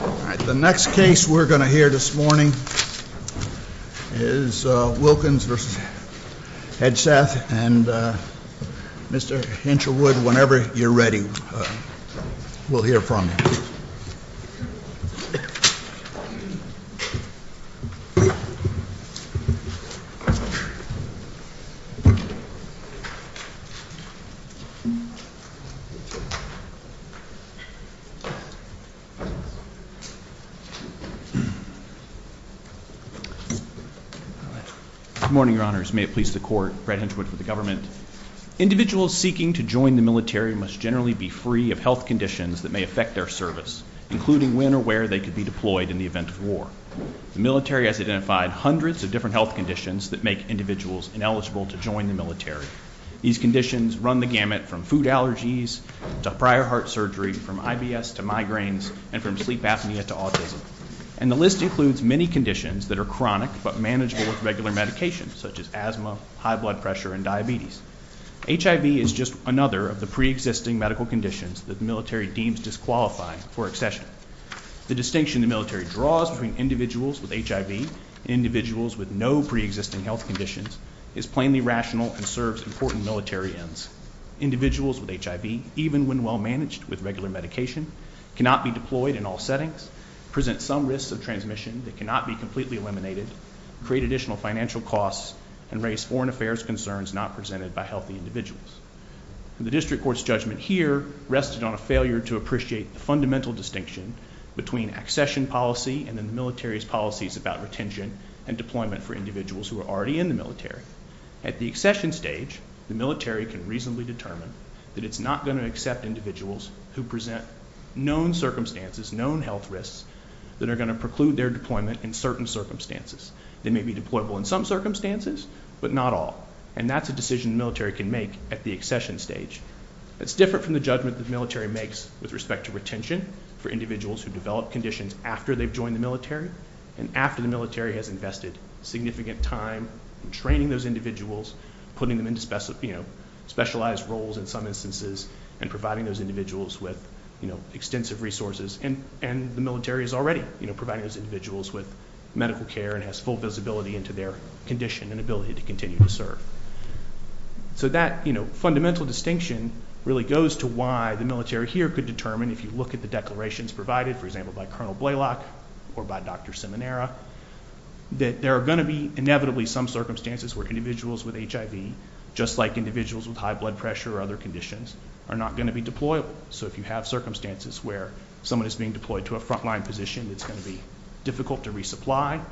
All right, the next case we're going to hear this morning is Wilkins v. Hegseth. And Mr. Hinchwood, whenever you're ready, we'll hear from you. Good morning, your honors. May it please the court, Brad Hinchwood for the government. Individuals seeking to join the military must generally be free of health conditions that may affect their service, including when or where they could be deployed in the event of war. The military has identified hundreds of different health conditions that make individuals ineligible to join the military. These conditions run the gamut from food allergies to prior heart surgery, from IBS to migraines, and from sleep apnea to autism. And the list includes many conditions that are chronic but manageable with regular medication, such as asthma, high blood pressure, and diabetes. HIV is just another of the preexisting medical conditions that the military deems disqualifying for accession. The distinction the military draws between individuals with HIV and individuals with no preexisting health conditions is plainly irrational and serves important military ends. Individuals with HIV, even when well-managed with regular medication, cannot be deployed in all settings, present some risks of transmission that cannot be completely eliminated, create additional financial costs, and raise foreign affairs concerns not presented by healthy individuals. The district court's judgment here rested on a failure to appreciate the fundamental distinction between accession policy and the military's policies about retention and deployment for individuals who are already in the military. At the accession stage, the military can reasonably determine that it's not going to accept individuals who present known circumstances, known health risks, that are going to preclude their deployment in certain circumstances. They may be deployable in some circumstances, but not all. And that's a decision the military can make at the accession stage. It's different from the judgment the military makes with respect to retention for individuals who develop conditions after they've joined the military and after the military has invested significant time in training those individuals, putting them into specialized roles in some instances, and providing those individuals with extensive resources. And the military is already providing those individuals with medical care and has full visibility into their condition and ability to continue to serve. So that fundamental distinction really goes to why the military here could determine, if you look at the declarations provided, for example, by Colonel Blaylock or by Dr. Simonera, that there are going to be inevitably some circumstances where individuals with HIV, just like individuals with high blood pressure or other conditions, are not going to be deployable. So if you have circumstances where someone is being deployed to a frontline position, it's going to be difficult to resupply.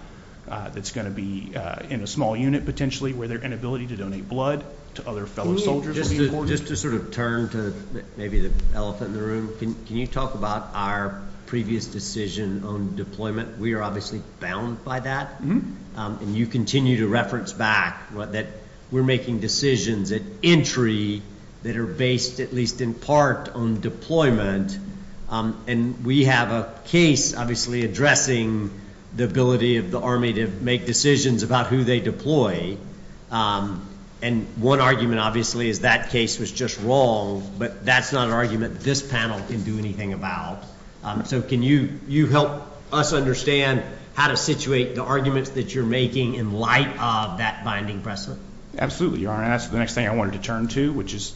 It's going to be in a small unit, potentially, where their inability to donate blood to other fellow soldiers would be important. Just to sort of turn to maybe the elephant in the room, can you talk about our previous decision on deployment? We are obviously bound by that. And you continue to reference back that we're making decisions at entry that are based, at least in part, on deployment. And we have a case, obviously, addressing the ability of the Army to make decisions about who they deploy. And one argument, obviously, is that case was just wrong, but that's not an argument this panel can do anything about. So can you help us understand how to situate the arguments that you're making in light of that binding precedent? Absolutely, Your Honor. And that's the next thing I wanted to turn to, which is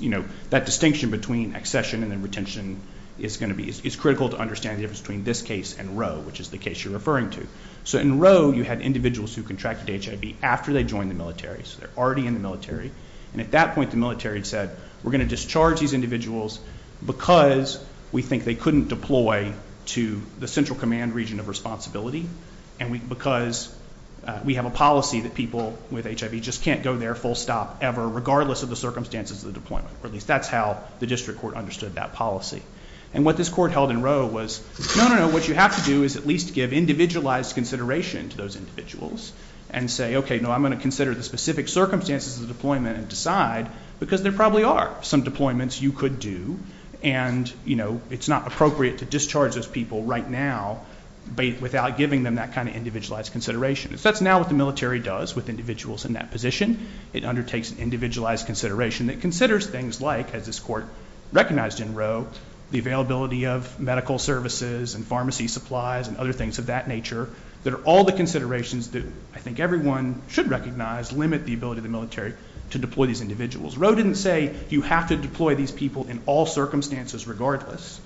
that distinction between accession and then retention is going to be—it's critical to understand the difference between this case and Roe, which is the case you're referring to. So in Roe, you had individuals who contracted HIV after they joined the military, so they're already in the military. And at that point, the military said, we're going to discharge these individuals because we think they couldn't deploy to the central command region of responsibility and because we have a policy that people with HIV just can't go there full stop ever, regardless of the circumstances of the deployment, or at least that's how the district court understood that policy. And what this court held in Roe was, no, no, no, what you have to do is at least give individualized consideration to those individuals and say, okay, no, I'm going to consider the specific circumstances of the deployment and decide, because there probably are some deployments you could do, and it's not appropriate to discharge those people right now without giving them that kind of individualized consideration. That's now what the military does with individuals in that position. It undertakes an individualized consideration that considers things like, as this court recognized in Roe, the availability of medical services and pharmacy supplies and other things of that nature that are all the considerations that I think everyone should recognize limit the ability of the military to deploy these individuals. Roe didn't say you have to deploy these people in all circumstances regardless.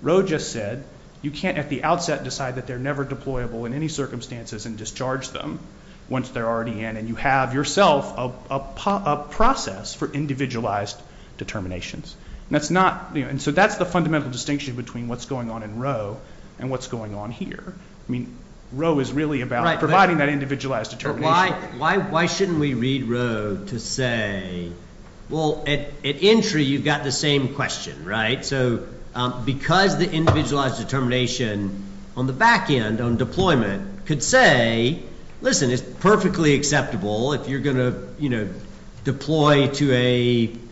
Roe just said, you can't at the outset decide that they're never deployable in any circumstances and discharge them once they're already in, and you have yourself a process for individualized determinations. And that's not, you know, and so that's the fundamental distinction between what's going on in Roe and what's going on here. I mean, Roe is really about providing that individualized determination. Why shouldn't we read Roe to say, well, at entry, you've got the same question, right? So because the individualized determination on the back end on deployment could say, listen, it's perfectly acceptable if you're going to, you know, deploy to a,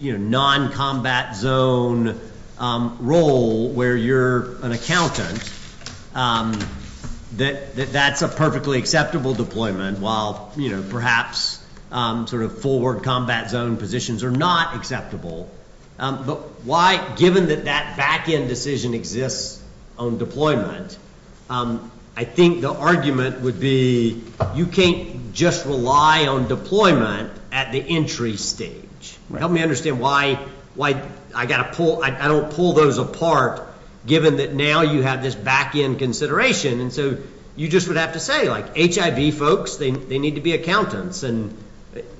you know, noncombat zone role where you're an accountant, that that's a perfectly acceptable deployment while, you know, perhaps sort of forward combat zone positions are not acceptable. But why, given that that back end decision exists on deployment, I think the argument would be you can't just rely on deployment at the entry stage. Help me understand why I got to pull, I don't pull those apart given that now you have this back end consideration. And so you just would have to say, like, HIV folks, they need to be accountants. And,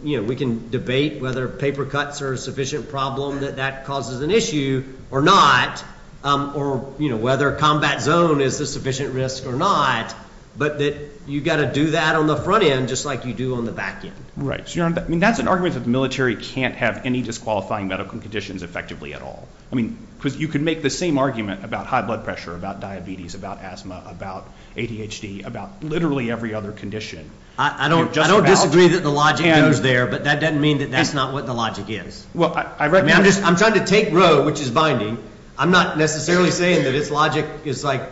you know, we can debate whether paper cuts are a sufficient problem that that causes an issue or not, or, you know, whether combat zone is the sufficient risk or not, but that you've got to do that on the front end just like you do on the back end. Right. So, you know, I mean, that's an argument that the military can't have any disqualifying medical conditions effectively at all. I mean, because you could make the same argument about high blood pressure, about diabetes, about asthma, about ADHD, about literally every other condition. I don't, I don't disagree that the logic goes there, but that doesn't mean that that's not what the logic is. I mean, I'm just, I'm trying to take Roe, which is binding. I'm not necessarily saying that its logic is like,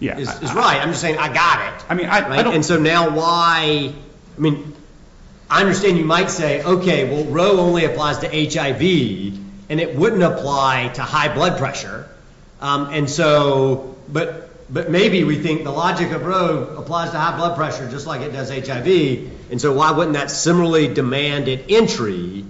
is right. I'm just saying I got it. And so now why, I mean, I understand you might say, okay, well, Roe only applies to HIV and it wouldn't apply to high blood pressure. And so, but, but maybe we think the logic of Roe applies to high blood pressure, just like it does HIV. And so why wouldn't that similarly demanded entry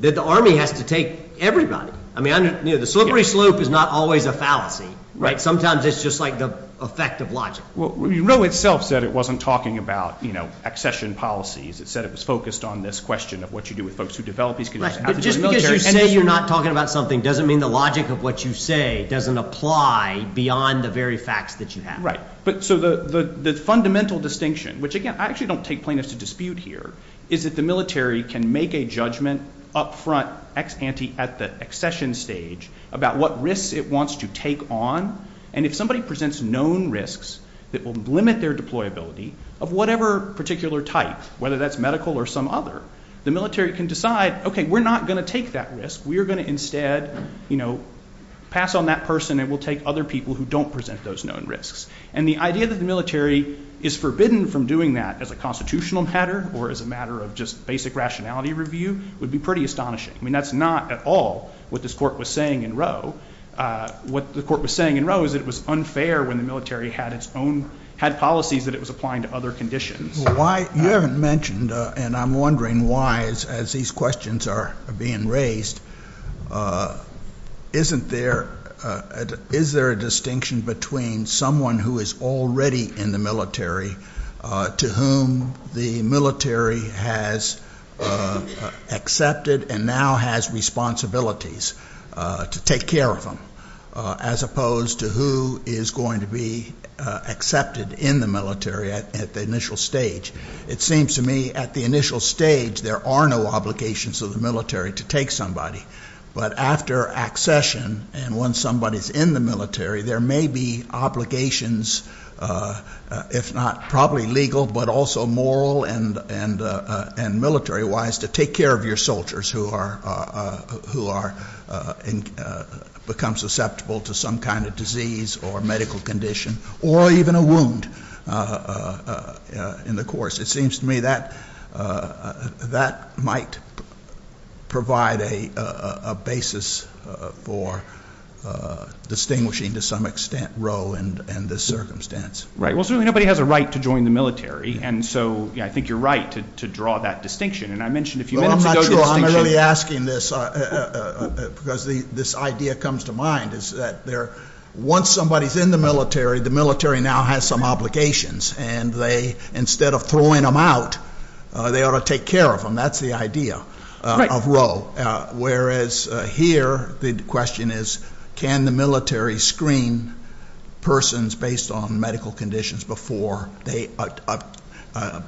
that the army has to take everybody? I mean, you know, the slippery slope is not always a fallacy, right? Sometimes it's just like the effect of logic. Well, Roe itself said it wasn't talking about, you know, accession policies. It said it was focused on this question of what you do with folks who develop these conditions. Right, but just because you say you're not talking about something doesn't mean the logic of what you say doesn't apply beyond the very facts that you have. Right. But so the, the, the fundamental distinction, which again, I actually don't take plaintiffs to dispute here, is that the military can make a judgment upfront ex ante at the accession stage about what risks it wants to take on. And if somebody presents known risks that will limit their deployability of whatever particular type, whether that's medical or some other, the military can decide, okay, we're not going to take that risk. We are going to instead, you know, pass on that person and we'll take other people who don't present those known risks. And the idea that the military is forbidden from doing that as a constitutional matter or as a matter of just basic rationality review would be pretty astonishing. I mean, that's not at all what this court was saying in Roe. Uh, what the court was saying in Roe is that it was unfair when the military had its own, had policies that it was applying to other conditions. Why you haven't mentioned, uh, and I'm wondering why as, as these questions are being raised, uh, isn't there, uh, is there a distinction between someone who is already in the military, uh, to whom the military has, uh, uh, accepted and now has responsibilities, uh, to take care of them, uh, as opposed to who is going to be, uh, accepted in the military at, at the initial stage. It seems to me at the initial stage, there are no obligations of the military to take somebody, but after accession and when somebody's in the military, there may be obligations, uh, if not probably legal, but also moral and, and, uh, and military wise to take care of your soldiers who are, uh, who are, uh, in, uh, become susceptible to some kind of disease or medical condition or even a wound, uh, uh, uh, in the course. It seems to me that, uh, that might provide a, uh, a basis, uh, for, uh, distinguishing to some extent Roe and, and this circumstance. Right. Well, certainly nobody has a right to join the military. And so, yeah, I think you're right to, to draw that distinction. And I mentioned a few minutes ago the distinction Well, I'm not sure I'm really asking this, uh, uh, uh, uh, because the, this idea comes to mind is that there, once somebody's in the military, the military now has some obligations and they, instead of throwing them out, uh, they ought to take care of them. That's the idea of Roe. Uh, whereas, uh, here the question is, can the military screen persons based on medical conditions before they, uh, uh, uh,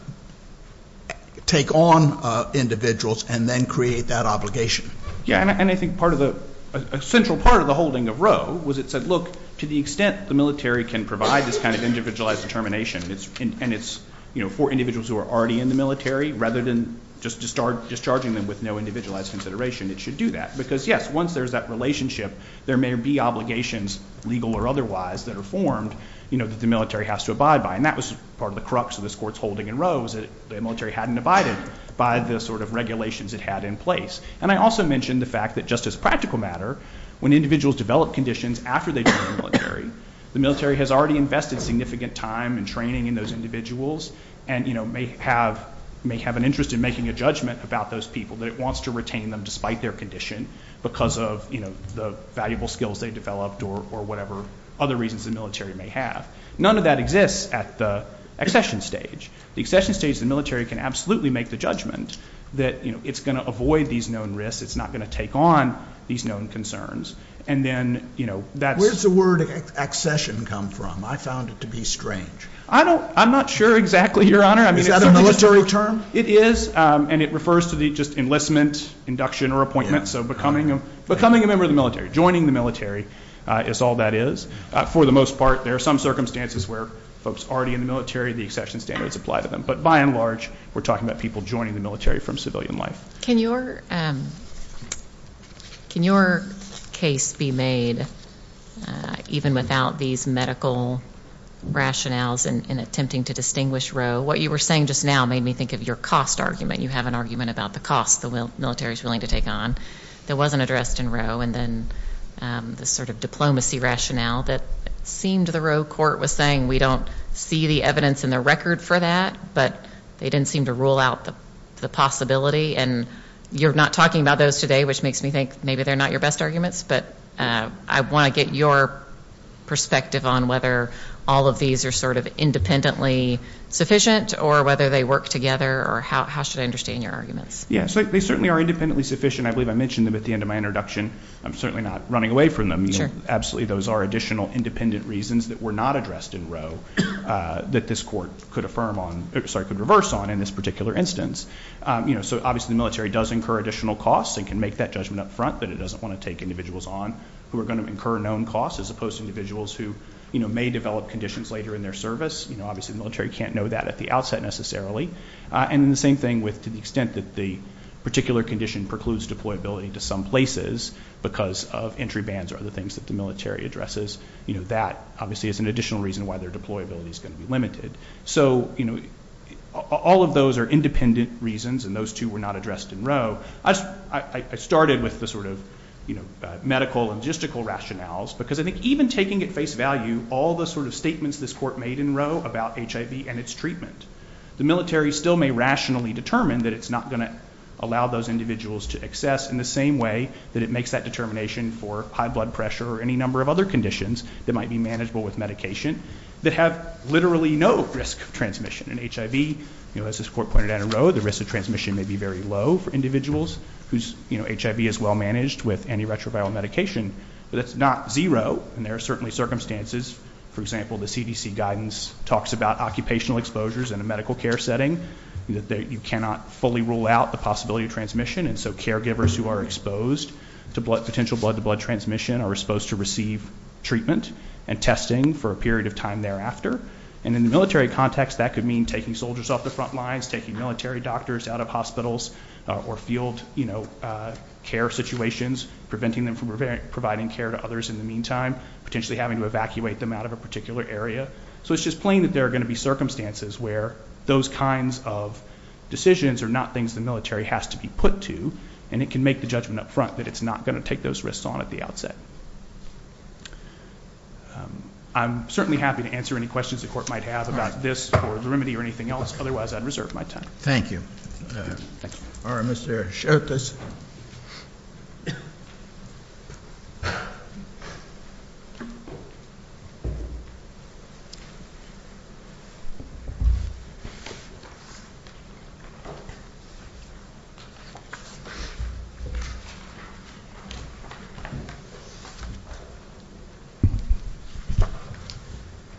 take on, uh, individuals and then create that obligation? Yeah. And I think part of the central part of the holding of Roe was it said, look, to the extent the military can provide this kind of individualized determination and it's, and it's, you know, for individuals who are already in the military rather than just to start discharging them with no individualized consideration, it should do that because yes, once there's that relationship, there may be obligations legal or otherwise that are formed, you know, that the military has to abide by. And that was part of the crux of this court's holding in Roe was that the military hadn't abided by the sort of regulations it had in place. And I also mentioned the fact that just as practical matter, when individuals develop conditions after they join the military, the military has already invested significant time and training in those individuals and, you know, may have, may have an interest in making a judgment about those people that it wants to retain them despite their condition because of, you know, the valuable skills they developed or, or whatever other reasons the military may have. None of that exists at the accession stage. The accession stage, the military can absolutely make the judgment that, you know, it's going to avoid these known risks. It's not going to take on these known concerns. And then, you know, that's where's the word accession come from? I found it to be strange. I don't, I'm not sure exactly your honor. Is that a military term? It is. And it refers to the just enlistment, induction or appointment. So becoming, becoming a member of the military, joining the military is all that is. For the most part, there are some circumstances where folks already in the military, the accession standards apply to them. But by and large, we're talking about people joining the military from civilian life. Can your, can your case be made even without these medical rationales in attempting to distinguish Roe? What you were saying just now made me think of your cost argument. You have an argument about the cost the military is willing to take on that wasn't addressed in Roe. And then the sort of diplomacy rationale that seemed the Roe court was saying we don't see the evidence in the record for that, but they didn't seem to rule out the possibility. And you're not talking about those today, which makes me think maybe they're not your best arguments. But I want to get your perspective on whether all of these are sort of independently sufficient or whether they work together or how, how should I understand your arguments? Yeah, so they certainly are independently sufficient. I believe I mentioned them at the end of my introduction. I'm certainly not running away from them. Absolutely. Those are additional independent reasons that were not addressed in Roe that this court could affirm on, sorry, could reverse on in this particular instance. You know, so obviously the military does incur additional costs and can make that judgment up front that it doesn't want to take individuals on who are going to incur known costs as opposed to individuals who, you know, may develop conditions later in their service. You know, obviously the military can't know that at the outset necessarily. And then the same thing with, to the extent that the particular condition precludes deployability to some places because of entry bans or other things that the military addresses, you know, that obviously is an additional reason why their deployability is going to be limited. So, you know, all of those are independent reasons and those two were not addressed in Roe. I started with the sort of, you know, medical and logistical rationales because I think even taking at face value all the sort of statements this court made in Roe about HIV and its treatment, the military still may rationally determine that it's not going to allow those individuals to access in the same way that it makes that determination for high blood pressure or any number of other conditions that might be manageable with medication that have literally no risk of transmission. And HIV, you know, as this court pointed out in Roe, the risk of transmission may be very low for individuals whose HIV is well managed with antiretroviral medication, but it's not zero. And there are certainly circumstances, for example, the CDC guidance talks about occupational exposures in a medical care setting that you cannot fully rule out the possibility of transmission. And so caregivers who are exposed to potential blood to blood transmission are supposed to receive treatment and testing for a period of time thereafter. And in the military context, that could mean taking soldiers off the front lines, taking military doctors out of hospitals or field, you know, care situations, preventing them from providing care to others in the meantime, potentially having to evacuate them out of a particular area. So it's just plain that there are going to be circumstances where those kinds of decisions are not things the military has to be put to, and it can make the judgment up front that it's not going to take those risks on at the outset. I'm certainly happy to answer any questions the court might have about this or the remedy or anything else. Otherwise, I'd reserve my time. Thank you. All right, Mr. Sherkis.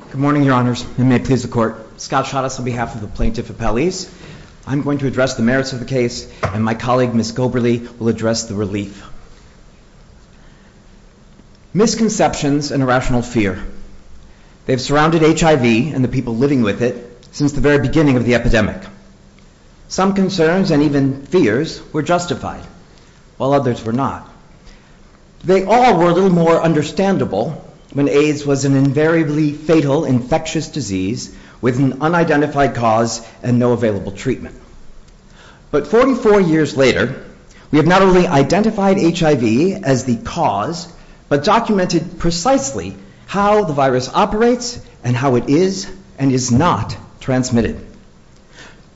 Good morning, Your Honors. And may it please the court. Scott shot us on behalf of the plaintiff appellees. I'm going to address the merits of the case and my colleague Miss Goberle will address the relief. Misconceptions and irrational fear. They've surrounded HIV and the people living with it since the very beginning of the epidemic. Some concerns and even fears were justified while others were not. They all were a little more understandable when AIDS was an invariably fatal infectious disease with an unidentified cause and no available treatment. But 44 years later, we have not only identified HIV as the cause, but documented precisely how the virus operates and how it is and is not transmitted.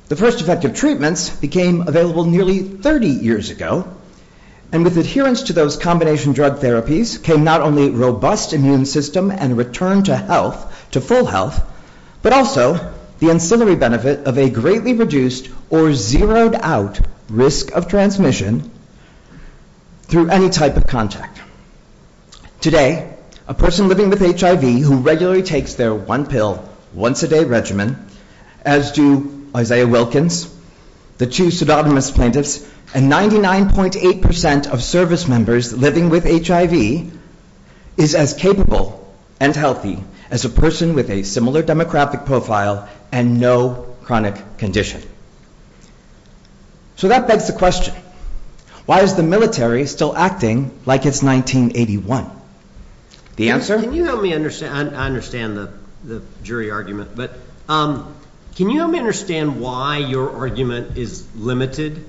The first effective treatments became available nearly 30 years ago. And with adherence to those combination drug therapies came not only robust immune system and return to health, to full health, but also the ancillary benefit of a greatly reduced or zeroed out risk of transmission through any type of contact. Today, a person living with HIV who regularly takes their one pill, once a day regimen, as do Isaiah Wilkins, the two pseudonymous plaintiffs and 99.8% of service members living with HIV is as capable and healthy as a person with a similar demographic profile and no chronic condition. So that begs the question, why is the military still acting like it's 1981? The answer... Can you help me understand, I understand the jury argument, but can you help me understand why your argument is limited?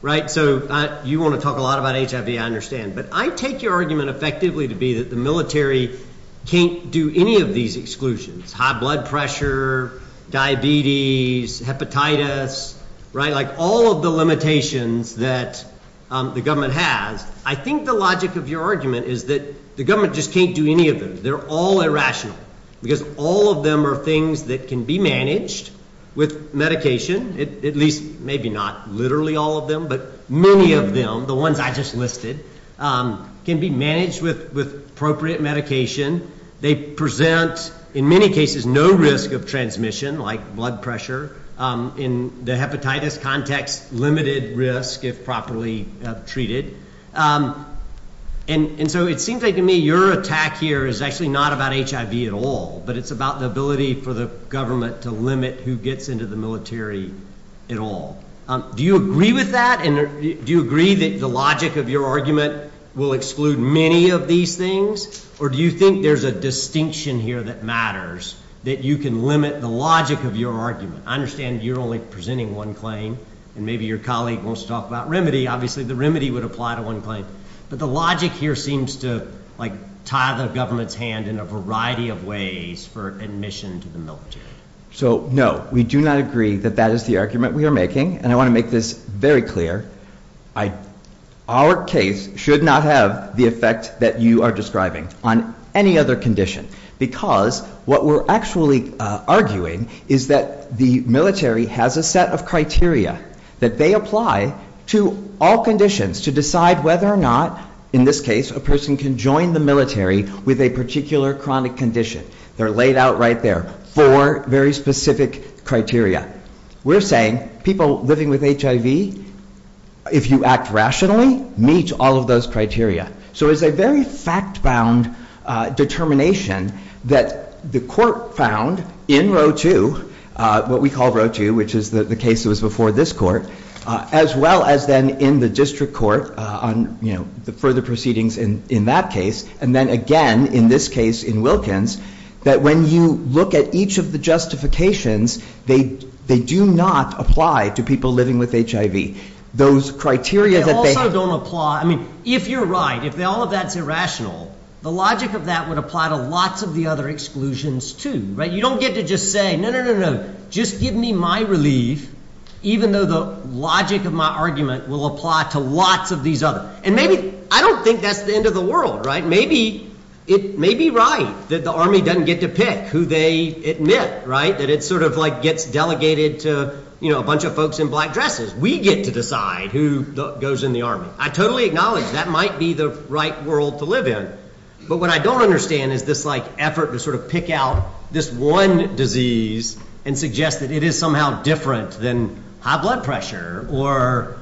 Right? So you want to talk a lot about HIV, I understand, but I take your argument effectively to be that the military can't do any of these exclusions, high blood pressure, diabetes, hepatitis, right? Like all of the limitations that the government has. I think the logic of your argument is that the government just can't do any of them. They're all irrational because all of them are things that can be managed with medication, at least maybe not literally all of them, but many of them, the ones I just listed, can be managed with appropriate medication. They present, in many cases, no risk of transmission like blood pressure. In the hepatitis context, limited risk if properly treated. And so it seems like to me your attack here is actually not about HIV at all, but it's about the ability for the government to limit who gets into the military at all. Do you agree with that? And do you agree that the logic of your argument will exclude many of these things? Or do you think there's a distinction here that matters, that you can limit the logic of your argument? I understand you're only presenting one claim, and maybe your colleague wants to talk about remedy. Obviously the remedy would apply to one claim. But the logic here seems to tie the government's hand in a variety of ways for admission to the military. So, no, we do not agree that that is the argument we are making. And I want to make this very clear. Our case should not have the effect that you are describing on any other condition. Because what we're actually arguing is that the military has a set of criteria that they apply to all conditions to decide whether or not, in this case, a person can join the military with a particular chronic condition. They're laid out right there. Four very specific criteria. We're saying people living with HIV, if you act rationally, meet all of those criteria. So it's a very fact-bound determination that the court found in Row 2, what we call Row 2, which is the case that was before this court, as well as then in the district court on the further proceedings in that case. And then again, in this case, in Wilkins, that when you look at each of the justifications, they do not apply to people living with HIV. Those criteria that they have... They also don't apply... I mean, if you're right, if all of that's irrational, the logic of that would apply to lots of the other exclusions, too. You don't get to just say, no, no, no. Just give me my relief, even though the logic of my argument will apply to lots of these others. And maybe... I don't think that's the end of the world, right? It may be right that the Army doesn't get to pick who they admit, right? That it sort of gets delegated to a bunch of folks in black dresses. We get to decide who goes in the Army. I totally acknowledge that might be the right world to live in. But what I don't understand is this effort to sort of pick out this one disease and suggest that it is somehow different than high blood pressure, or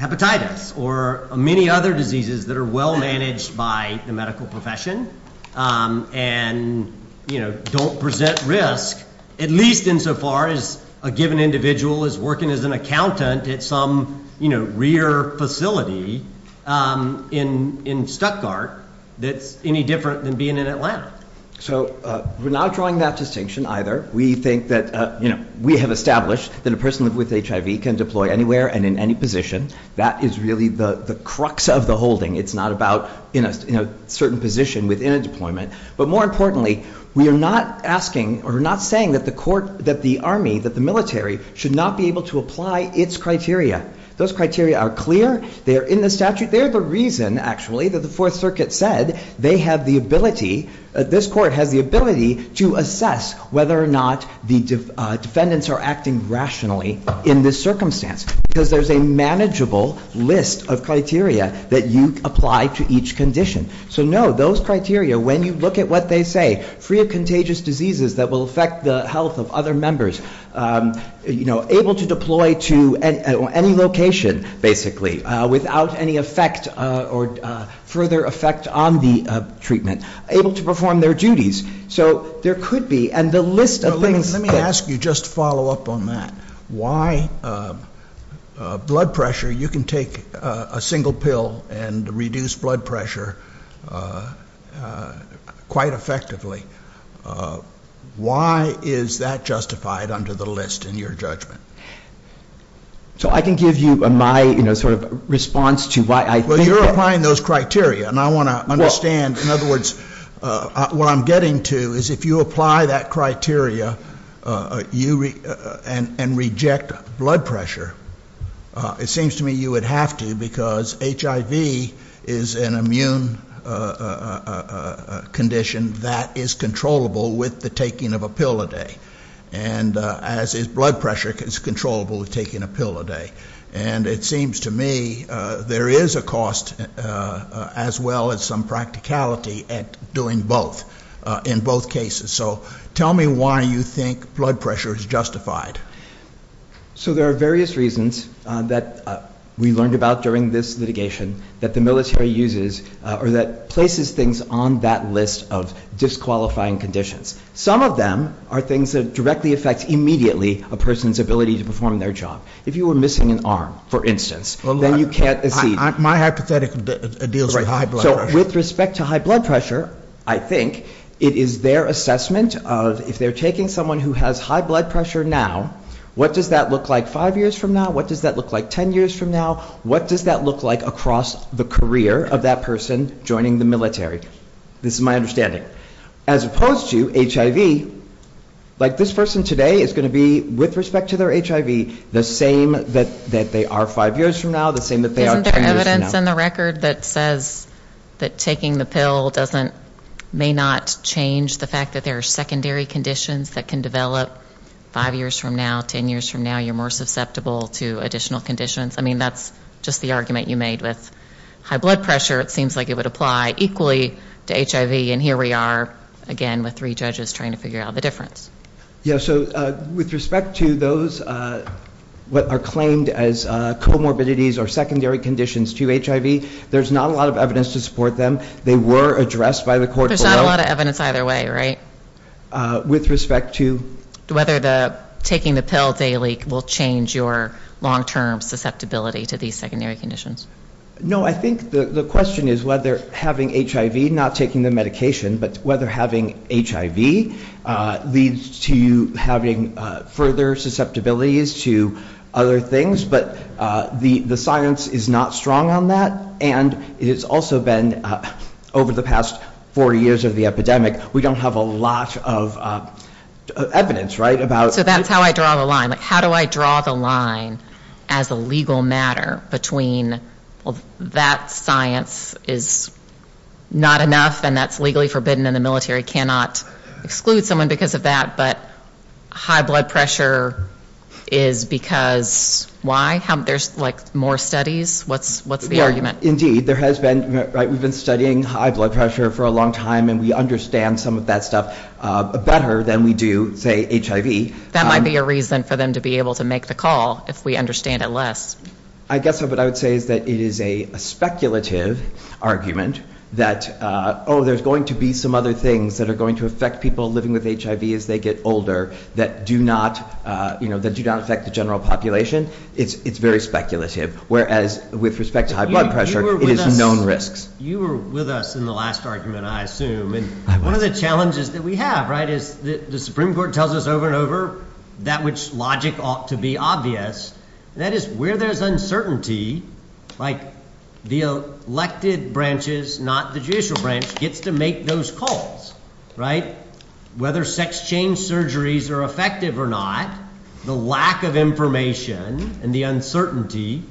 hepatitis, or many other diseases that are well-managed by the medical profession and don't present risk, at least insofar as a given individual is working as an accountant at some, you know, rear facility in Stuttgart that's any different than being in Atlanta. So we're not drawing that distinction either. We think that, you know, we have established that a person with HIV can deploy anywhere and in any position. That is really the crux of the holding. It's not about in a certain position within a deployment. But more importantly, we are not asking or not saying that the Army, that the military, should not be able to apply its criteria. Those criteria are clear. They are in the statute. They're the reason, actually, that the Fourth Circuit said they have the ability, this Court has the ability to assess whether or not the defendants are acting rationally in this circumstance. Because there's a manageable list of criteria that you apply to each condition. So no, those criteria, when you look at what they say, free of contagious diseases that will affect the health of other members, you know, able to deploy to any location, basically, without any effect or further effect on the treatment, able to perform their duties. So there could be, and the list of things- Let me ask you just to follow up on that. Why blood pressure, you can take a single pill and reduce blood pressure quite effectively. Why is that justified under the list in your judgment? So I can give you my, you know, sort of response to why I think- Well, you're applying those criteria. And I want to understand, in other words, what I'm getting to is if you apply that criteria and reject blood pressure, it seems to me you would have to because HIV is an immune condition that is controllable with the taking of a pill a day. And as is blood pressure, it's controllable with taking a pill a day. And it seems to me there is a cost as well as some practicality at doing both in both cases. So tell me why you think blood pressure is justified. So there are various reasons that we learned about during this litigation that the military uses or that places things on that list of disqualifying conditions. Some of them are things that directly affect immediately a person's ability to perform their job. If you were missing an arm, for instance, then you can't accede. My hypothetic deals with high blood pressure. So with respect to high blood pressure, I think it is their assessment of if they're taking someone who has high blood pressure now, what does that look like five years from now? What does that look like ten years from now? What does that look like across the career of that person joining the military? This is my understanding. As opposed to HIV, like this person today is going to be, with respect to their HIV, the same that they are five years from now, the same that they are ten years from now. Isn't there evidence in the record that says that taking the pill doesn't, may not change the fact that there are secondary conditions that can develop five years from now, ten years from now, you're more susceptible to additional conditions? I mean, that's just the argument you made with high blood pressure. It seems like it would apply equally to HIV. And here we are again with three judges trying to figure out the difference. Yeah, so with respect to those what are claimed as comorbidities or secondary conditions to HIV, there's not a lot of evidence to support them. They were addressed by the court below. There's not a lot of evidence either way, right? With respect to? Whether taking the pill daily will change your long-term susceptibility to these secondary conditions. No, I think the question is whether having HIV, not taking the medication, but whether having HIV leads to having further susceptibilities to other things. But the science is not strong on that. And it has also been over the past four years of the epidemic, we don't have a lot of evidence, right, about... So that's how I draw the line. How do I draw the line as a legal matter between that science is not enough and that's legally forbidden and the military cannot exclude someone because of that, but high blood pressure is because why? There's more studies? What's the argument? Yeah, indeed. We've been studying high blood pressure for a long time and we understand some of that stuff better than we do, say, HIV. That might be a reason for them to be able to make the call if we understand it less. I guess what I would say is that it is a speculative argument that, oh, there's going to be some other things that are going to affect people living with HIV as they get older that do not affect the general population. It's very speculative, whereas with respect to high blood pressure, it is known risks. You were with us in the last argument, I assume, and one of the challenges that we have, right, is the Supreme Court tells us over and over that which logic ought to be obvious, that is where there's uncertainty, like the elected branches, not the judicial branch, gets to make those calls, right? Whether sex change surgeries are effective or not, the lack of information and the uncertainty,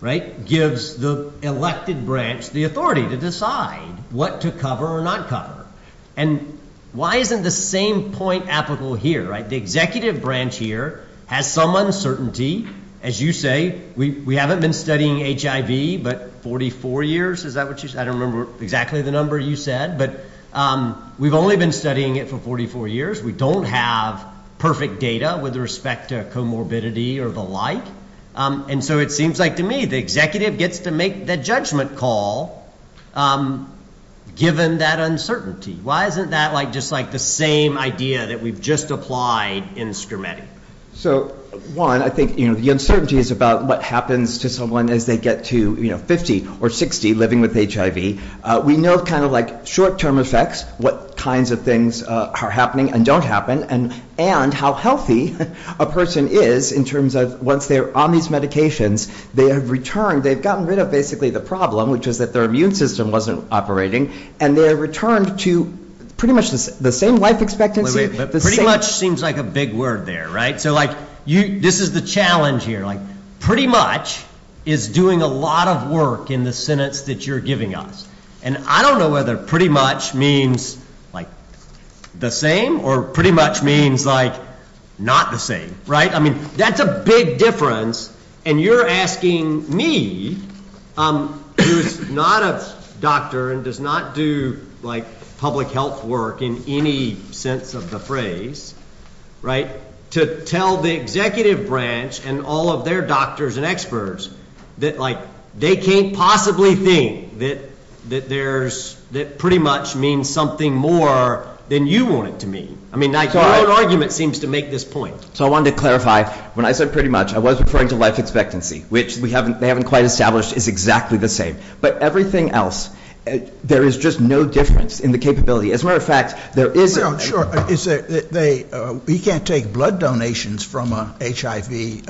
right, gives the elected branch the authority to decide what to cover or not cover. Why isn't the same point applicable here, right? The executive branch here has some uncertainty. As you say, we haven't been studying HIV, but 44 years, is that what you said? I don't remember exactly the number you said, but we've only been studying it for 44 years. We don't have perfect data with respect to comorbidity or the like, and so it seems like to me the executive gets to make the judgment call given that uncertainty. Why isn't that just like the same idea that we've just applied in Skermeti? So one, I think the uncertainty is about what happens to someone as they get to 50 or 60 living with HIV. We know kind of like short-term effects, what kinds of things are happening and don't happen, and how healthy a person is in terms of once they're on these medications, they have returned, they've gotten rid of basically the problem, which is that their immune system wasn't operating, and they're returned to pretty much the same life expectancy. Pretty much seems like a big word there, right? So this is the challenge here. Pretty much is doing a lot of work in the sentence that you're giving us, and I don't know whether pretty much means the same or pretty much means not the same, right? That's a big difference, and you're asking me, who is not a doctor and does not do public health work in any sense of the phrase, right, to tell the executive branch and all of their doctors and experts that like they can't possibly think that there's, that pretty much means something more than you want it to mean. I mean, your own argument seems to make this point. So I wanted to clarify, when I said pretty much, I was referring to life expectancy, which we haven't, they haven't quite established is exactly the same, but everything else, there is just no difference in the capability. As a matter of fact, there is- Well, sure. We can't take blood donations from an HIV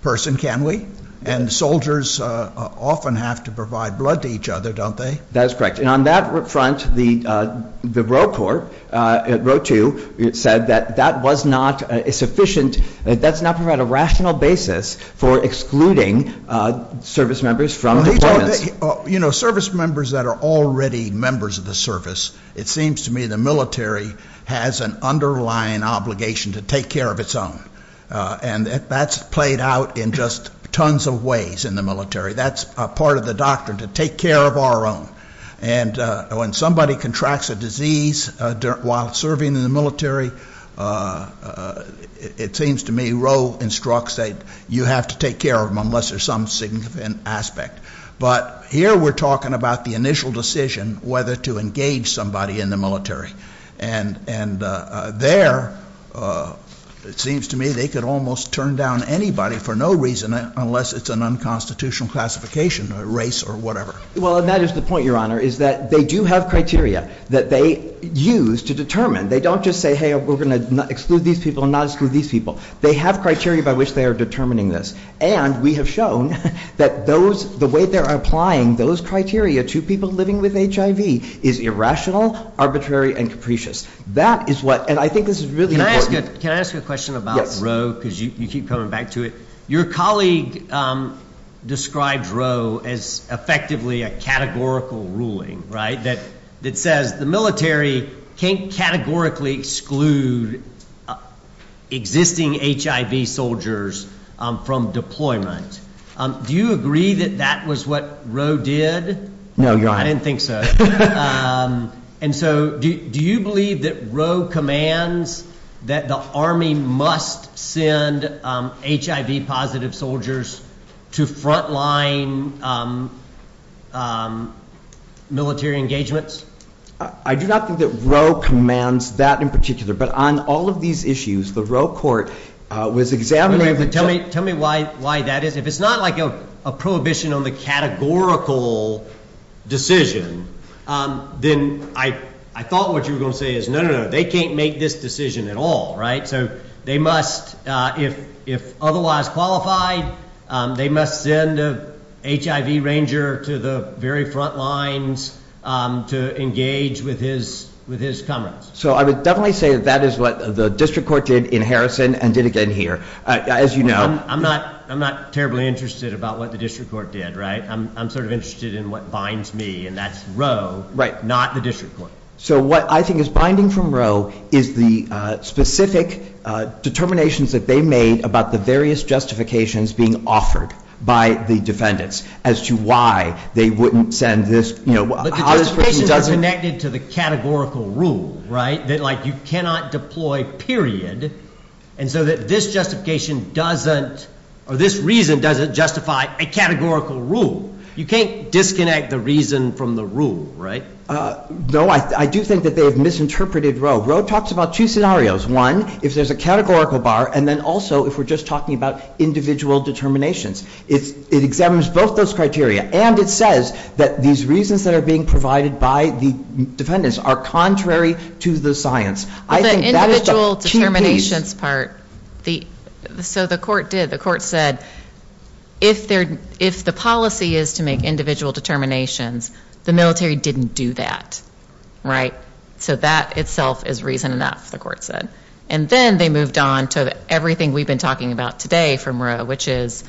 person, can we? And soldiers often have to provide blood to each other, don't they? That is correct. And on that front, the Roe Corp, Roe 2, said that that was not a sufficient, that's not provided a rational basis for excluding service members from deployments. You know, service members that are already members of the service, it seems to me the military has an underlying obligation to take care of its own. And that's played out in just tons of ways in the military. That's a part of the doctrine, to take care of our own. And when somebody contracts a disease while serving in the military, it seems to me Roe instructs that you have to take care of them unless there's some significant aspect. But here we're talking about the initial decision whether to engage somebody in the military. And there, it seems to me they could almost turn down anybody for no reason, unless it's an unconstitutional classification, a race or whatever. Well, and that is the point, Your Honor, is that they do have criteria that they use to determine. They don't just say, hey, we're going to exclude these people and not exclude these people. They have criteria by which they are determining this. And we have shown that those, the way they're applying those criteria to people living with HIV is irrational, arbitrary, and capricious. That is what, and I think this is really important. Can I ask you a question about Roe? Because you keep coming back to it. Your colleague describes Roe as effectively a categorical ruling, right? That says the military can't categorically exclude existing HIV soldiers from deployment. Do you agree that that was what Roe did? No, Your Honor. I didn't think so. And so do you believe that Roe commands that the Army must send HIV-positive soldiers to frontline military engagements? I do not think that Roe commands that in particular. But on all of these issues, the Roe court was examining... Anyway, tell me why that is. If it's not like a prohibition on the categorical decision, then I thought what you were going to say is, no, no, no, they can't make this decision at all, right? So they must, if otherwise qualified, they must send an HIV ranger to the very front lines to engage with his comrades. So I would definitely say that that is what the district court did in Harrison and did again here. As you know... I'm not terribly interested about what the district court did, right? I'm sort of interested in what binds me, and that's Roe, not the district court. So what I think is binding from Roe is the specific determinations that they made about the various justifications being offered by the defendants as to why they wouldn't send this, how this person doesn't... But the justification is connected to the categorical rule, right? That you cannot deploy period, and so that this justification doesn't, or this reason doesn't justify a categorical rule. You can't disconnect the reason from the rule, right? No, I do think that they have misinterpreted Roe. Roe talks about two scenarios. One, if there's a categorical bar, and then also if we're just talking about individual determinations. It examines both those criteria, and it says that these reasons that are being provided by the defendants are contrary to the science. I think that is the key piece. The individual determinations part... So the court did. The court said if the policy is to make individual determinations, the military didn't do that, right? So that itself is reason enough, the court said. And then they moved on to everything we've been talking about today from Roe, which is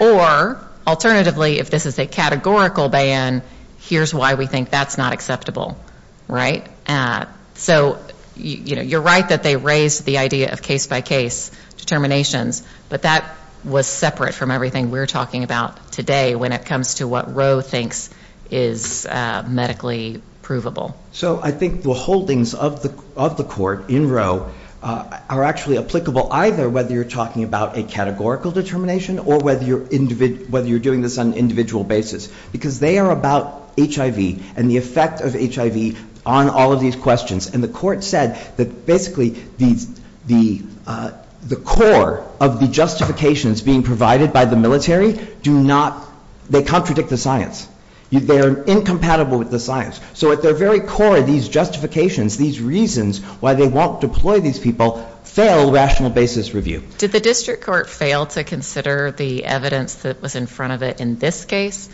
or alternatively, if this is a categorical ban, here's why we think that's not acceptable, right? So you're right that they raised the idea of case-by-case determinations, but that was separate from everything we're talking about today when it comes to what Roe thinks is medically provable. So I think the holdings of the court in Roe are actually applicable either whether you're talking about a categorical determination or whether you're doing this on an individual basis, because they are about HIV and the effect of HIV on all of these questions, and the court said that basically the core of the justifications being provided by the military do not... They contradict the science. They are incompatible with the science. So at their very core, these justifications, these reasons why they won't deploy these people, fail rational basis review. Did the district court fail to consider the evidence that was in front of it in this case?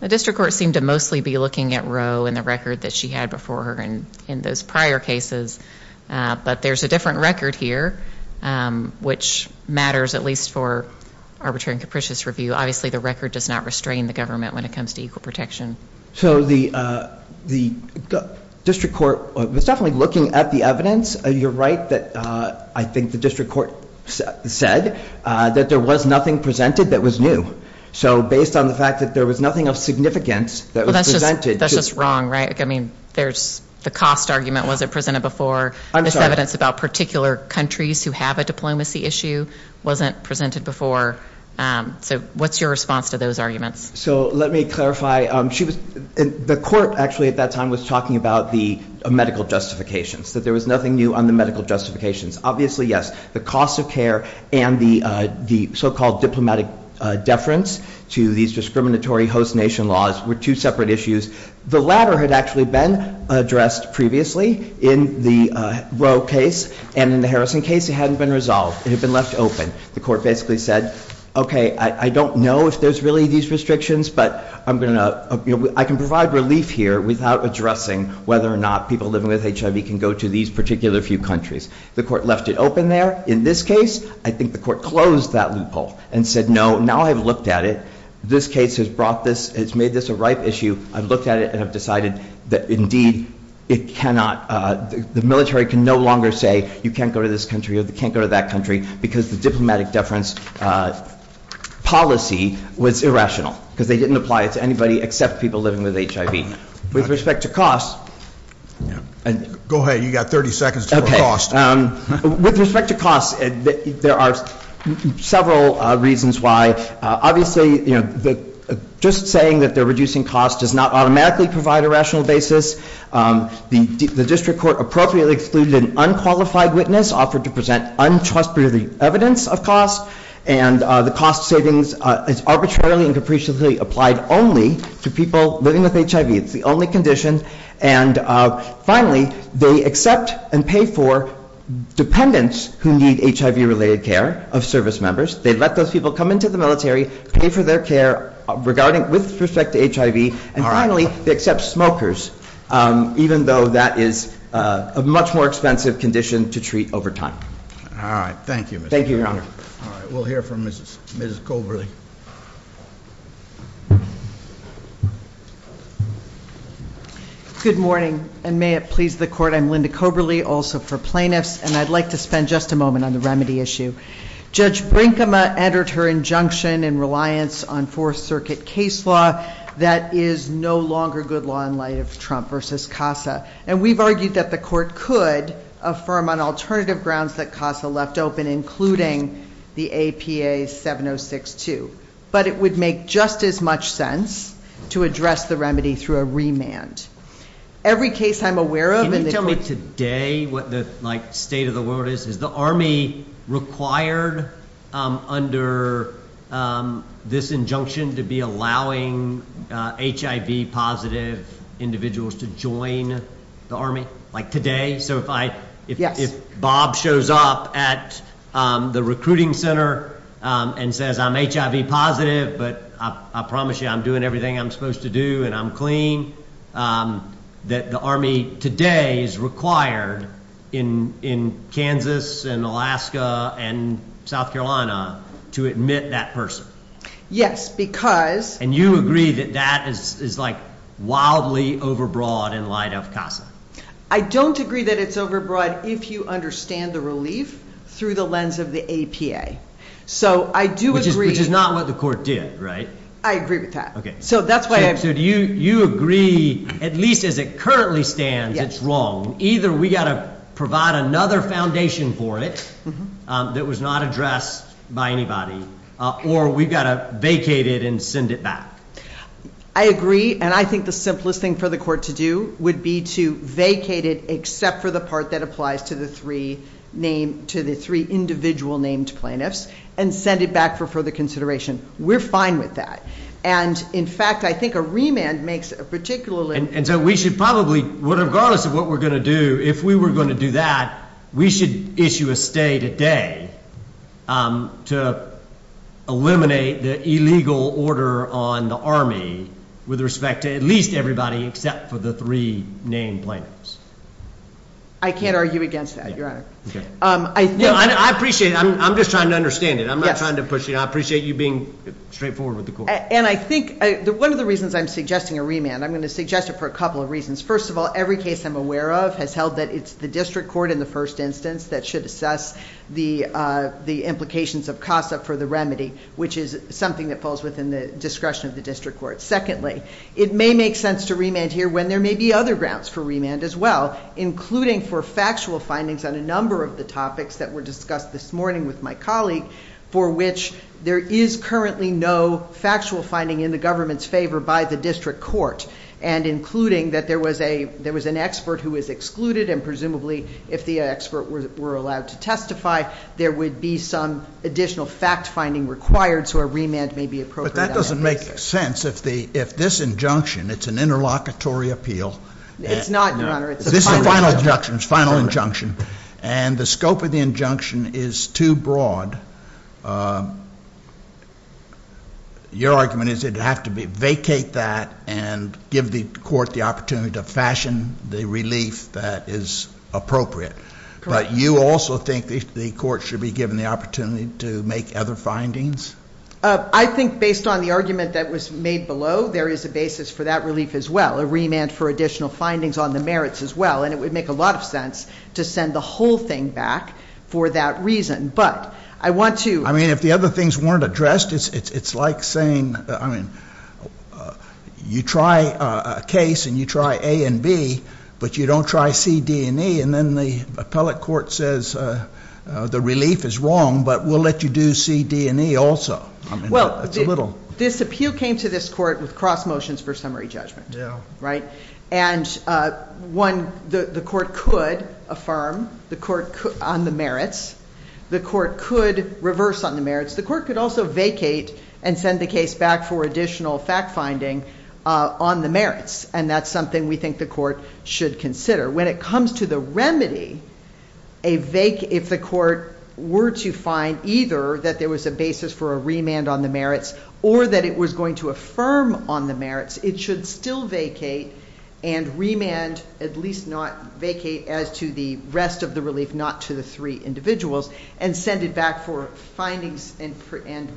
The district court seemed to mostly be looking at Roe and the record that she had before her and in those prior cases, but there's a different record here, which matters at least for arbitrary and capricious review. Obviously, the record does not restrain the government when it comes to equal protection. So the district court was definitely looking at the evidence. You're right that I think the said that there was nothing presented that was new. So based on the fact that there was nothing of significance that was presented... That's just wrong, right? I mean, there's the cost argument wasn't presented before. This evidence about particular countries who have a diplomacy issue wasn't presented before. So what's your response to those arguments? So let me clarify. The court actually at that time was talking about the medical justifications, that there was nothing new on the medical justifications. Obviously, yes, the cost of care and the so-called diplomatic deference to these discriminatory host nation laws were two separate issues. The latter had actually been addressed previously in the Roe case and in the Harrison case, it hadn't been resolved. It had been left open. The court basically said, okay, I don't know if there's really these restrictions, but I can provide relief here without addressing whether or not people living with HIV can go to these particular few countries. The court left it open there. In this case, I think the court closed that loophole and said, no, now I've looked at it. This case has brought this, it's made this a ripe issue. I've looked at it and I've decided that indeed it cannot, the military can no longer say you can't go to this country or they can't go to that country because the diplomatic deference policy was irrational because they didn't apply it to anybody except people living with HIV. With respect to cost... Go ahead, you got 30 seconds. Okay, with respect to costs, there are several reasons why. Obviously, you know, just saying that they're reducing cost does not automatically provide a rational basis. The district court appropriately excluded an unqualified witness offered to present untrustworthy evidence of cost and the cost savings is arbitrarily and capriciously applied only to people living with HIV. It's the only condition and finally they accept and pay for dependents who need HIV-related care of service members. They let those people come into the military, pay for their care regarding, with respect to HIV, and finally they accept smokers even though that is a much more expensive condition to treat over time. All right, thank you. Thank you, your honor. All right, we'll hear from Mrs. Koberly. Good morning and may it please the court. I'm Linda Koberly, also for plaintiffs, and I'd like to spend just a moment on the remedy issue. Judge Brinkema entered her injunction in reliance on fourth circuit case law that is no longer good law in light of Trump versus CASA and we've argued that the court could affirm on alternative grounds that CASA left open including the APA 7062, but it would make just as much sense to address the remedy through a remand. Every case I'm aware of- Can you tell me today what the like state of the world is? Is the army required under this injunction to be allowing HIV positive individuals to join the army? So if Bob shows up at the recruiting center and says, I'm HIV positive, but I promise you I'm doing everything I'm supposed to do and I'm clean, that the army today is required in Kansas and Alaska and South Carolina to admit that person? Yes, because- And you agree that that is like overbroad in light of CASA? I don't agree that it's overbroad if you understand the relief through the lens of the APA. So I do agree- Which is not what the court did, right? I agree with that. Okay. So that's why- So do you agree, at least as it currently stands, it's wrong. Either we got to provide another foundation for it that was not addressed by anybody or we got to vacate and send it back? I agree. And I think the simplest thing for the court to do would be to vacate it except for the part that applies to the three individual named plaintiffs and send it back for further consideration. We're fine with that. And in fact, I think a remand makes a particular- And so we should probably, regardless of what we're going to do, if we were going to do that, we should issue a stay today to eliminate the illegal order on the army with respect to at least everybody except for the three named plaintiffs. I can't argue against that, your honor. I appreciate it. I'm just trying to understand it. I'm not trying to push it. I appreciate you being straightforward with the court. And I think one of the reasons I'm suggesting a remand, I'm going to suggest it for a couple of reasons. First of all, every case I'm aware of has held that it's the district court in the first instance that should assess the implications of CASA for the remedy, which is something that falls within the discretion of the district court. Secondly, it may make sense to remand here when there may be other grounds for remand as well, including for factual findings on a number of the topics that were discussed this morning with my colleague for which there is currently no factual finding in the government's favor by the district court, and including that there was an expert who was excluded, and presumably if the expert were allowed to testify, there would be some additional fact-finding required, so a remand may be appropriate. But that doesn't make sense. If this injunction, it's an interlocutory appeal. It's not, your honor. This is a final injunction, and the scope of the injunction is too broad. Your argument is it'd have to be vacate that and give the court the opportunity to fashion the relief that is appropriate, but you also think the court should be given the opportunity to make other findings? I think based on the argument that was made below, there is a basis for that relief as well, a remand for additional findings on the merits as well, and it would make lot of sense to send the whole thing back for that reason, but I want to... I mean, if the other things weren't addressed, it's like saying, I mean, you try a case and you try A and B, but you don't try C, D, and E, and then the appellate court says the relief is wrong, but we'll let you do C, D, and E also. I mean, that's a little... Well, this appeal came to this court with cross motions for summary judgment, right? And one, the court could affirm on the merits, the court could reverse on the merits, the court could also vacate and send the case back for additional fact finding on the merits, and that's something we think the court should consider. When it comes to the remedy, if the court were to find either that there was a basis for a remand on the merits or that it was going to affirm on the merits, it should still vacate and remand, at least not vacate as to the rest of the relief, not to the three individuals, and send it back for findings and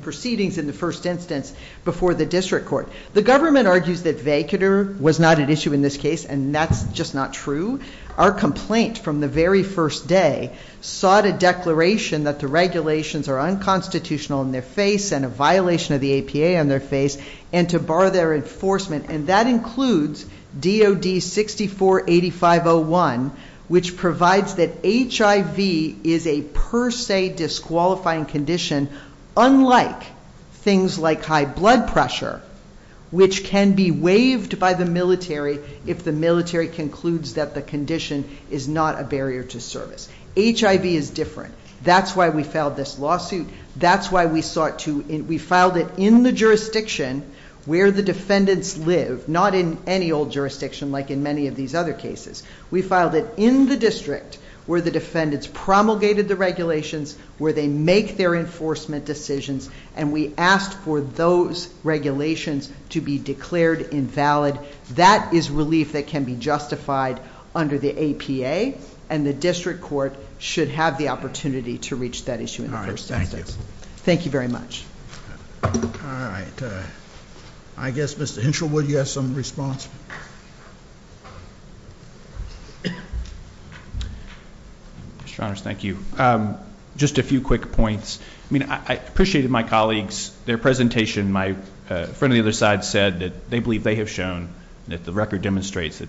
proceedings in the first instance before the district court. The government argues that vacater was not an issue in this case, and that's just not true. Our complaint from the very first day sought a declaration that the regulations are unconstitutional in their face and a violation of the APA on their face, and to bar their enforcement, and that includes DOD 64-8501, which provides that HIV is a per se disqualifying condition, unlike things like high blood pressure, which can be waived by the military if the military concludes that the condition is not a barrier to service. HIV is different. That's why we filed this lawsuit. That's why we sought to, we filed it in the jurisdiction where the defendants live, not in any old jurisdiction like in many of these other cases. We filed it in the district where the defendants promulgated the regulations, where they make their enforcement decisions, and we asked for those regulations to be declared invalid. That is relief that can be justified under the APA, and the district court should have the opportunity to reach that issue in the first instance. Thank you very much. All right. I guess Mr. Henshaw, would you have some response? Mr. Honors, thank you. Just a few quick points. I mean, I appreciated my colleagues, their presentation. My friend on the other side said that they believe they have shown that the record demonstrates that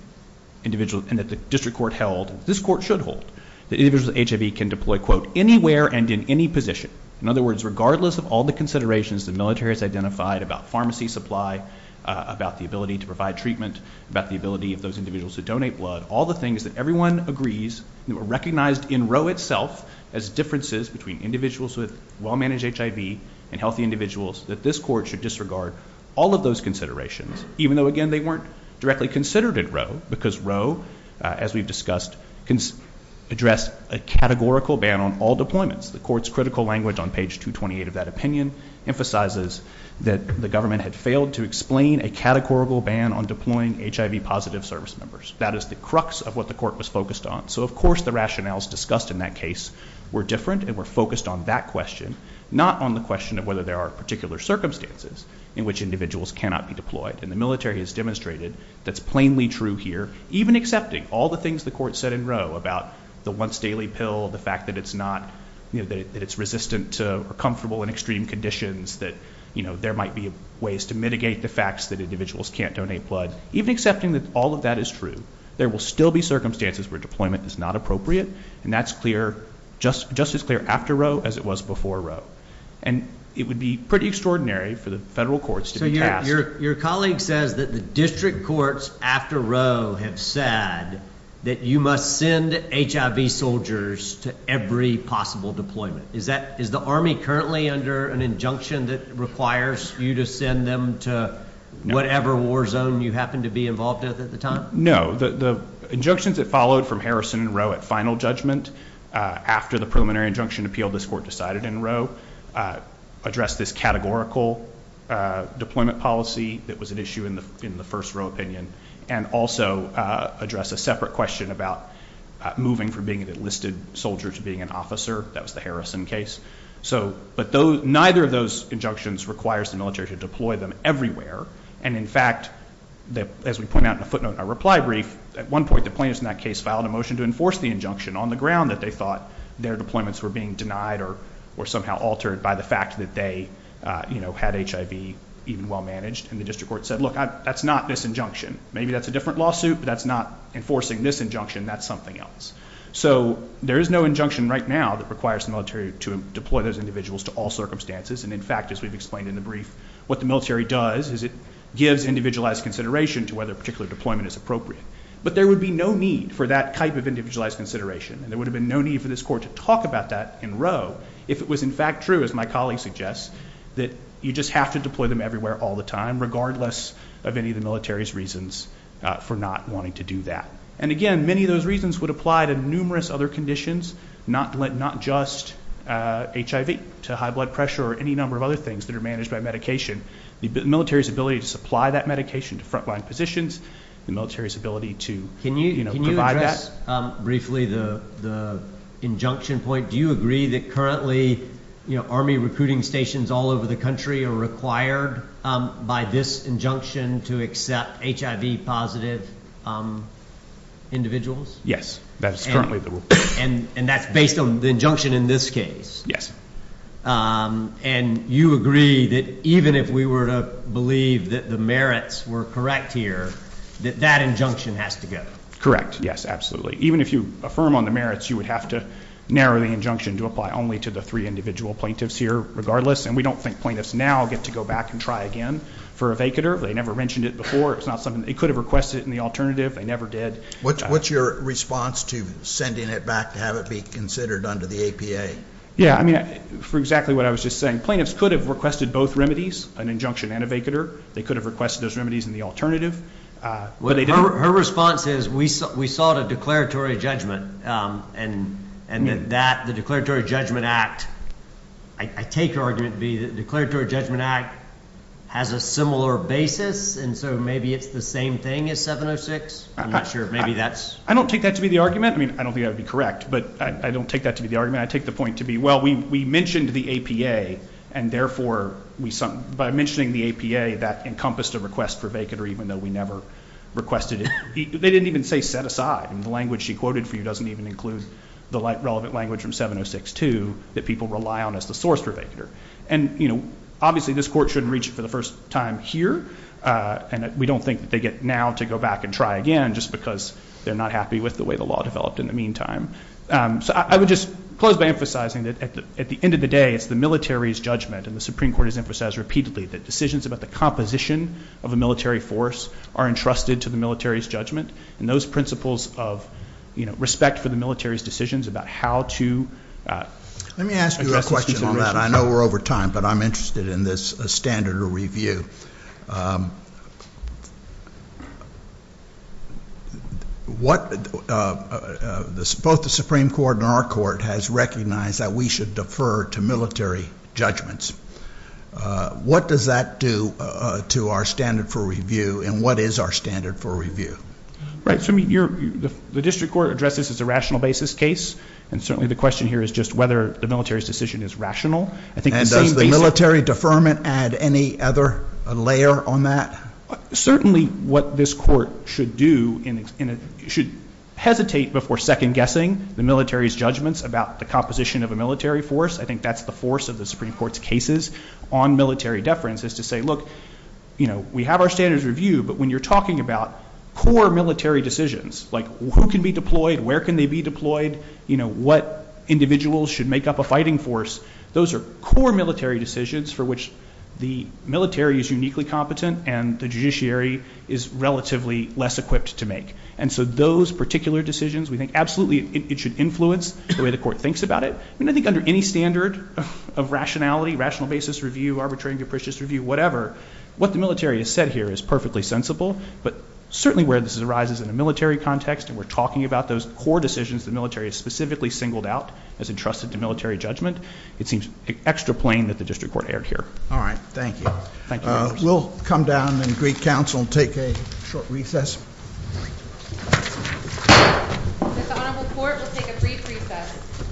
individuals, and that the district court held, this court should hold, that individuals with HIV can deploy, quote, anywhere and in any position. In other words, regardless of all the considerations the military has identified about pharmacy supply, about the ability to provide treatment, about the ability of those individuals to donate blood, all the things that everyone agrees, that were recognized in row itself as differences between individuals with well-managed HIV and healthy individuals, that this court should disregard all of those considerations, even though, again, they weren't directly considered in row, because row, as we've discussed, can address a categorical ban on all deployments. The court's critical language on page 228 of that opinion emphasizes that the government had failed to explain a categorical ban on deploying HIV positive service members. That is the crux of what the court was focused on. So, of course, the rationales discussed in that case were different and were focused on that question, not on the question of whether there are particular circumstances in which individuals cannot be deployed. And the military has demonstrated that's plainly true here, even accepting all the things the court said in row about the once daily pill, the fact that it's not, you know, that it's resistant to or comfortable in extreme conditions, that, you know, there might be ways to mitigate the facts that individuals can't donate blood, even accepting that all of that is true, there will still be circumstances where deployment is not appropriate. And that's clear, just just as clear after row as it was before row. And it would be pretty extraordinary for the federal courts to your colleague says that the district courts after row have said that you must send HIV soldiers to every possible deployment is that is the army currently under an injunction that requires you to send them to whatever war zone you happen to know that the injunctions that followed from Harrison row at final judgment. After the preliminary injunction appeal, this court decided in row address this categorical deployment policy that was an issue in the in the first row opinion, and also address a separate question about moving from being an enlisted soldier to being an officer. That was the Harrison case. So but those neither of those injunctions requires the military to deploy them everywhere. And in fact, that, as we point out in a footnote, a reply brief, at one point, the plaintiffs in that case filed a motion to enforce the injunction on the ground that they thought their deployments were being denied or, or somehow altered by the fact that they, you know, had HIV, even well managed, and the district court said, Look, that's not this injunction. Maybe that's a different lawsuit, but that's not enforcing this injunction. That's something else. So there is no injunction right now that requires the military to deploy those individuals to all circumstances. And in fact, as we've explained in the brief, what the military does is it gives individualized consideration to whether a particular deployment is appropriate. But there would be no need for that type of individualized consideration. And there would have been no need for this court to talk about that in row, if it was in fact true, as my colleague suggests, that you just have to deploy them everywhere all the time, regardless of any of the military's reasons for not wanting to do that. And again, many of those reasons would apply to numerous other conditions, not let not just HIV to high blood pressure or any number of other things that are managed by medication, the military's ability to supply that medication to frontline positions, the military's ability to can you can you address briefly the the injunction point? Do you agree that currently, you know, army recruiting stations all over the country are required by this injunction to accept HIV positive individuals? Yes, that's currently the rule. And and that's based on the injunction in this case? Yes. And you agree that even if we were to believe that the merits were correct here, that that injunction has to go? Correct? Yes, absolutely. Even if you affirm on the merits, you would have to narrow the injunction to apply only to the three individual plaintiffs here regardless. And we don't think plaintiffs now get to go back and try again for a vacater. They never mentioned it before. It's not something they could have requested in the alternative. They never did. What's your response to sending it back to have it be considered under the APA? Yeah, I mean, for exactly what I was just saying. Plaintiffs could have requested both remedies, an injunction and a vacater. They could have requested those remedies in the alternative. Her response is we sought a declaratory judgment. And, and that the Declaratory Judgment Act, I take her argument to be the Declaratory Judgment Act has a similar basis. And so maybe it's the same thing as 706. I'm not sure. Maybe that's, I don't take that to be the argument. I mean, I don't think that would be correct, but I don't take that to be the argument. I take the point to be, well, we mentioned the APA and therefore we, by mentioning the APA, that encompassed a request for vacater, even though we never requested it. They didn't even say set aside. And the language she quoted for you doesn't even include the relevant language from 706-2 that people rely on as the source for vacater. And, obviously this court shouldn't reach it for the first time here. And we don't think that they get now to go back and try again, just because they're not happy with the way the law developed in the meantime. So I would just close by emphasizing that at the end of the day, it's the military's judgment. And the Supreme Court has emphasized repeatedly that decisions about the composition of a military force are entrusted to the military's judgment. And those principles of respect for the military's decisions about how to- Let me ask you a question on that. I know we're over time, but I'm interested in this standard of review. What, both the Supreme Court and our court has recognized that we should defer to military judgments. What does that do to our standard for review? And what is our standard for review? Right. So I mean, the district court addressed this as a rational basis case. And certainly the question here is just whether the military's decision is rational. And does the military deferment add any other layer on that? Certainly what this court should do, should hesitate before second guessing the military's judgments about the composition of a military force. I think that's the force of the Supreme Court's cases on military deference is to say, look, we have our standards review, but when you're talking about core military decisions, like who can be deployed? Where can they be deployed? What individuals should make up a fighting force? Those are core military decisions for which the military is uniquely competent and the judiciary is relatively less equipped to make. And so those particular decisions, we think absolutely it should influence the way the court thinks about it. I mean, I think under any standard of rationality, rational basis review, arbitrary and capricious review, whatever, what the military has said here is perfectly sensible. But certainly where this arises in a military context, and talking about those core decisions the military has specifically singled out as entrusted to military judgment, it seems extra plain that the district court erred here. All right. Thank you. We'll come down and greet counsel and take a short recess. This honorable court will take a brief recess.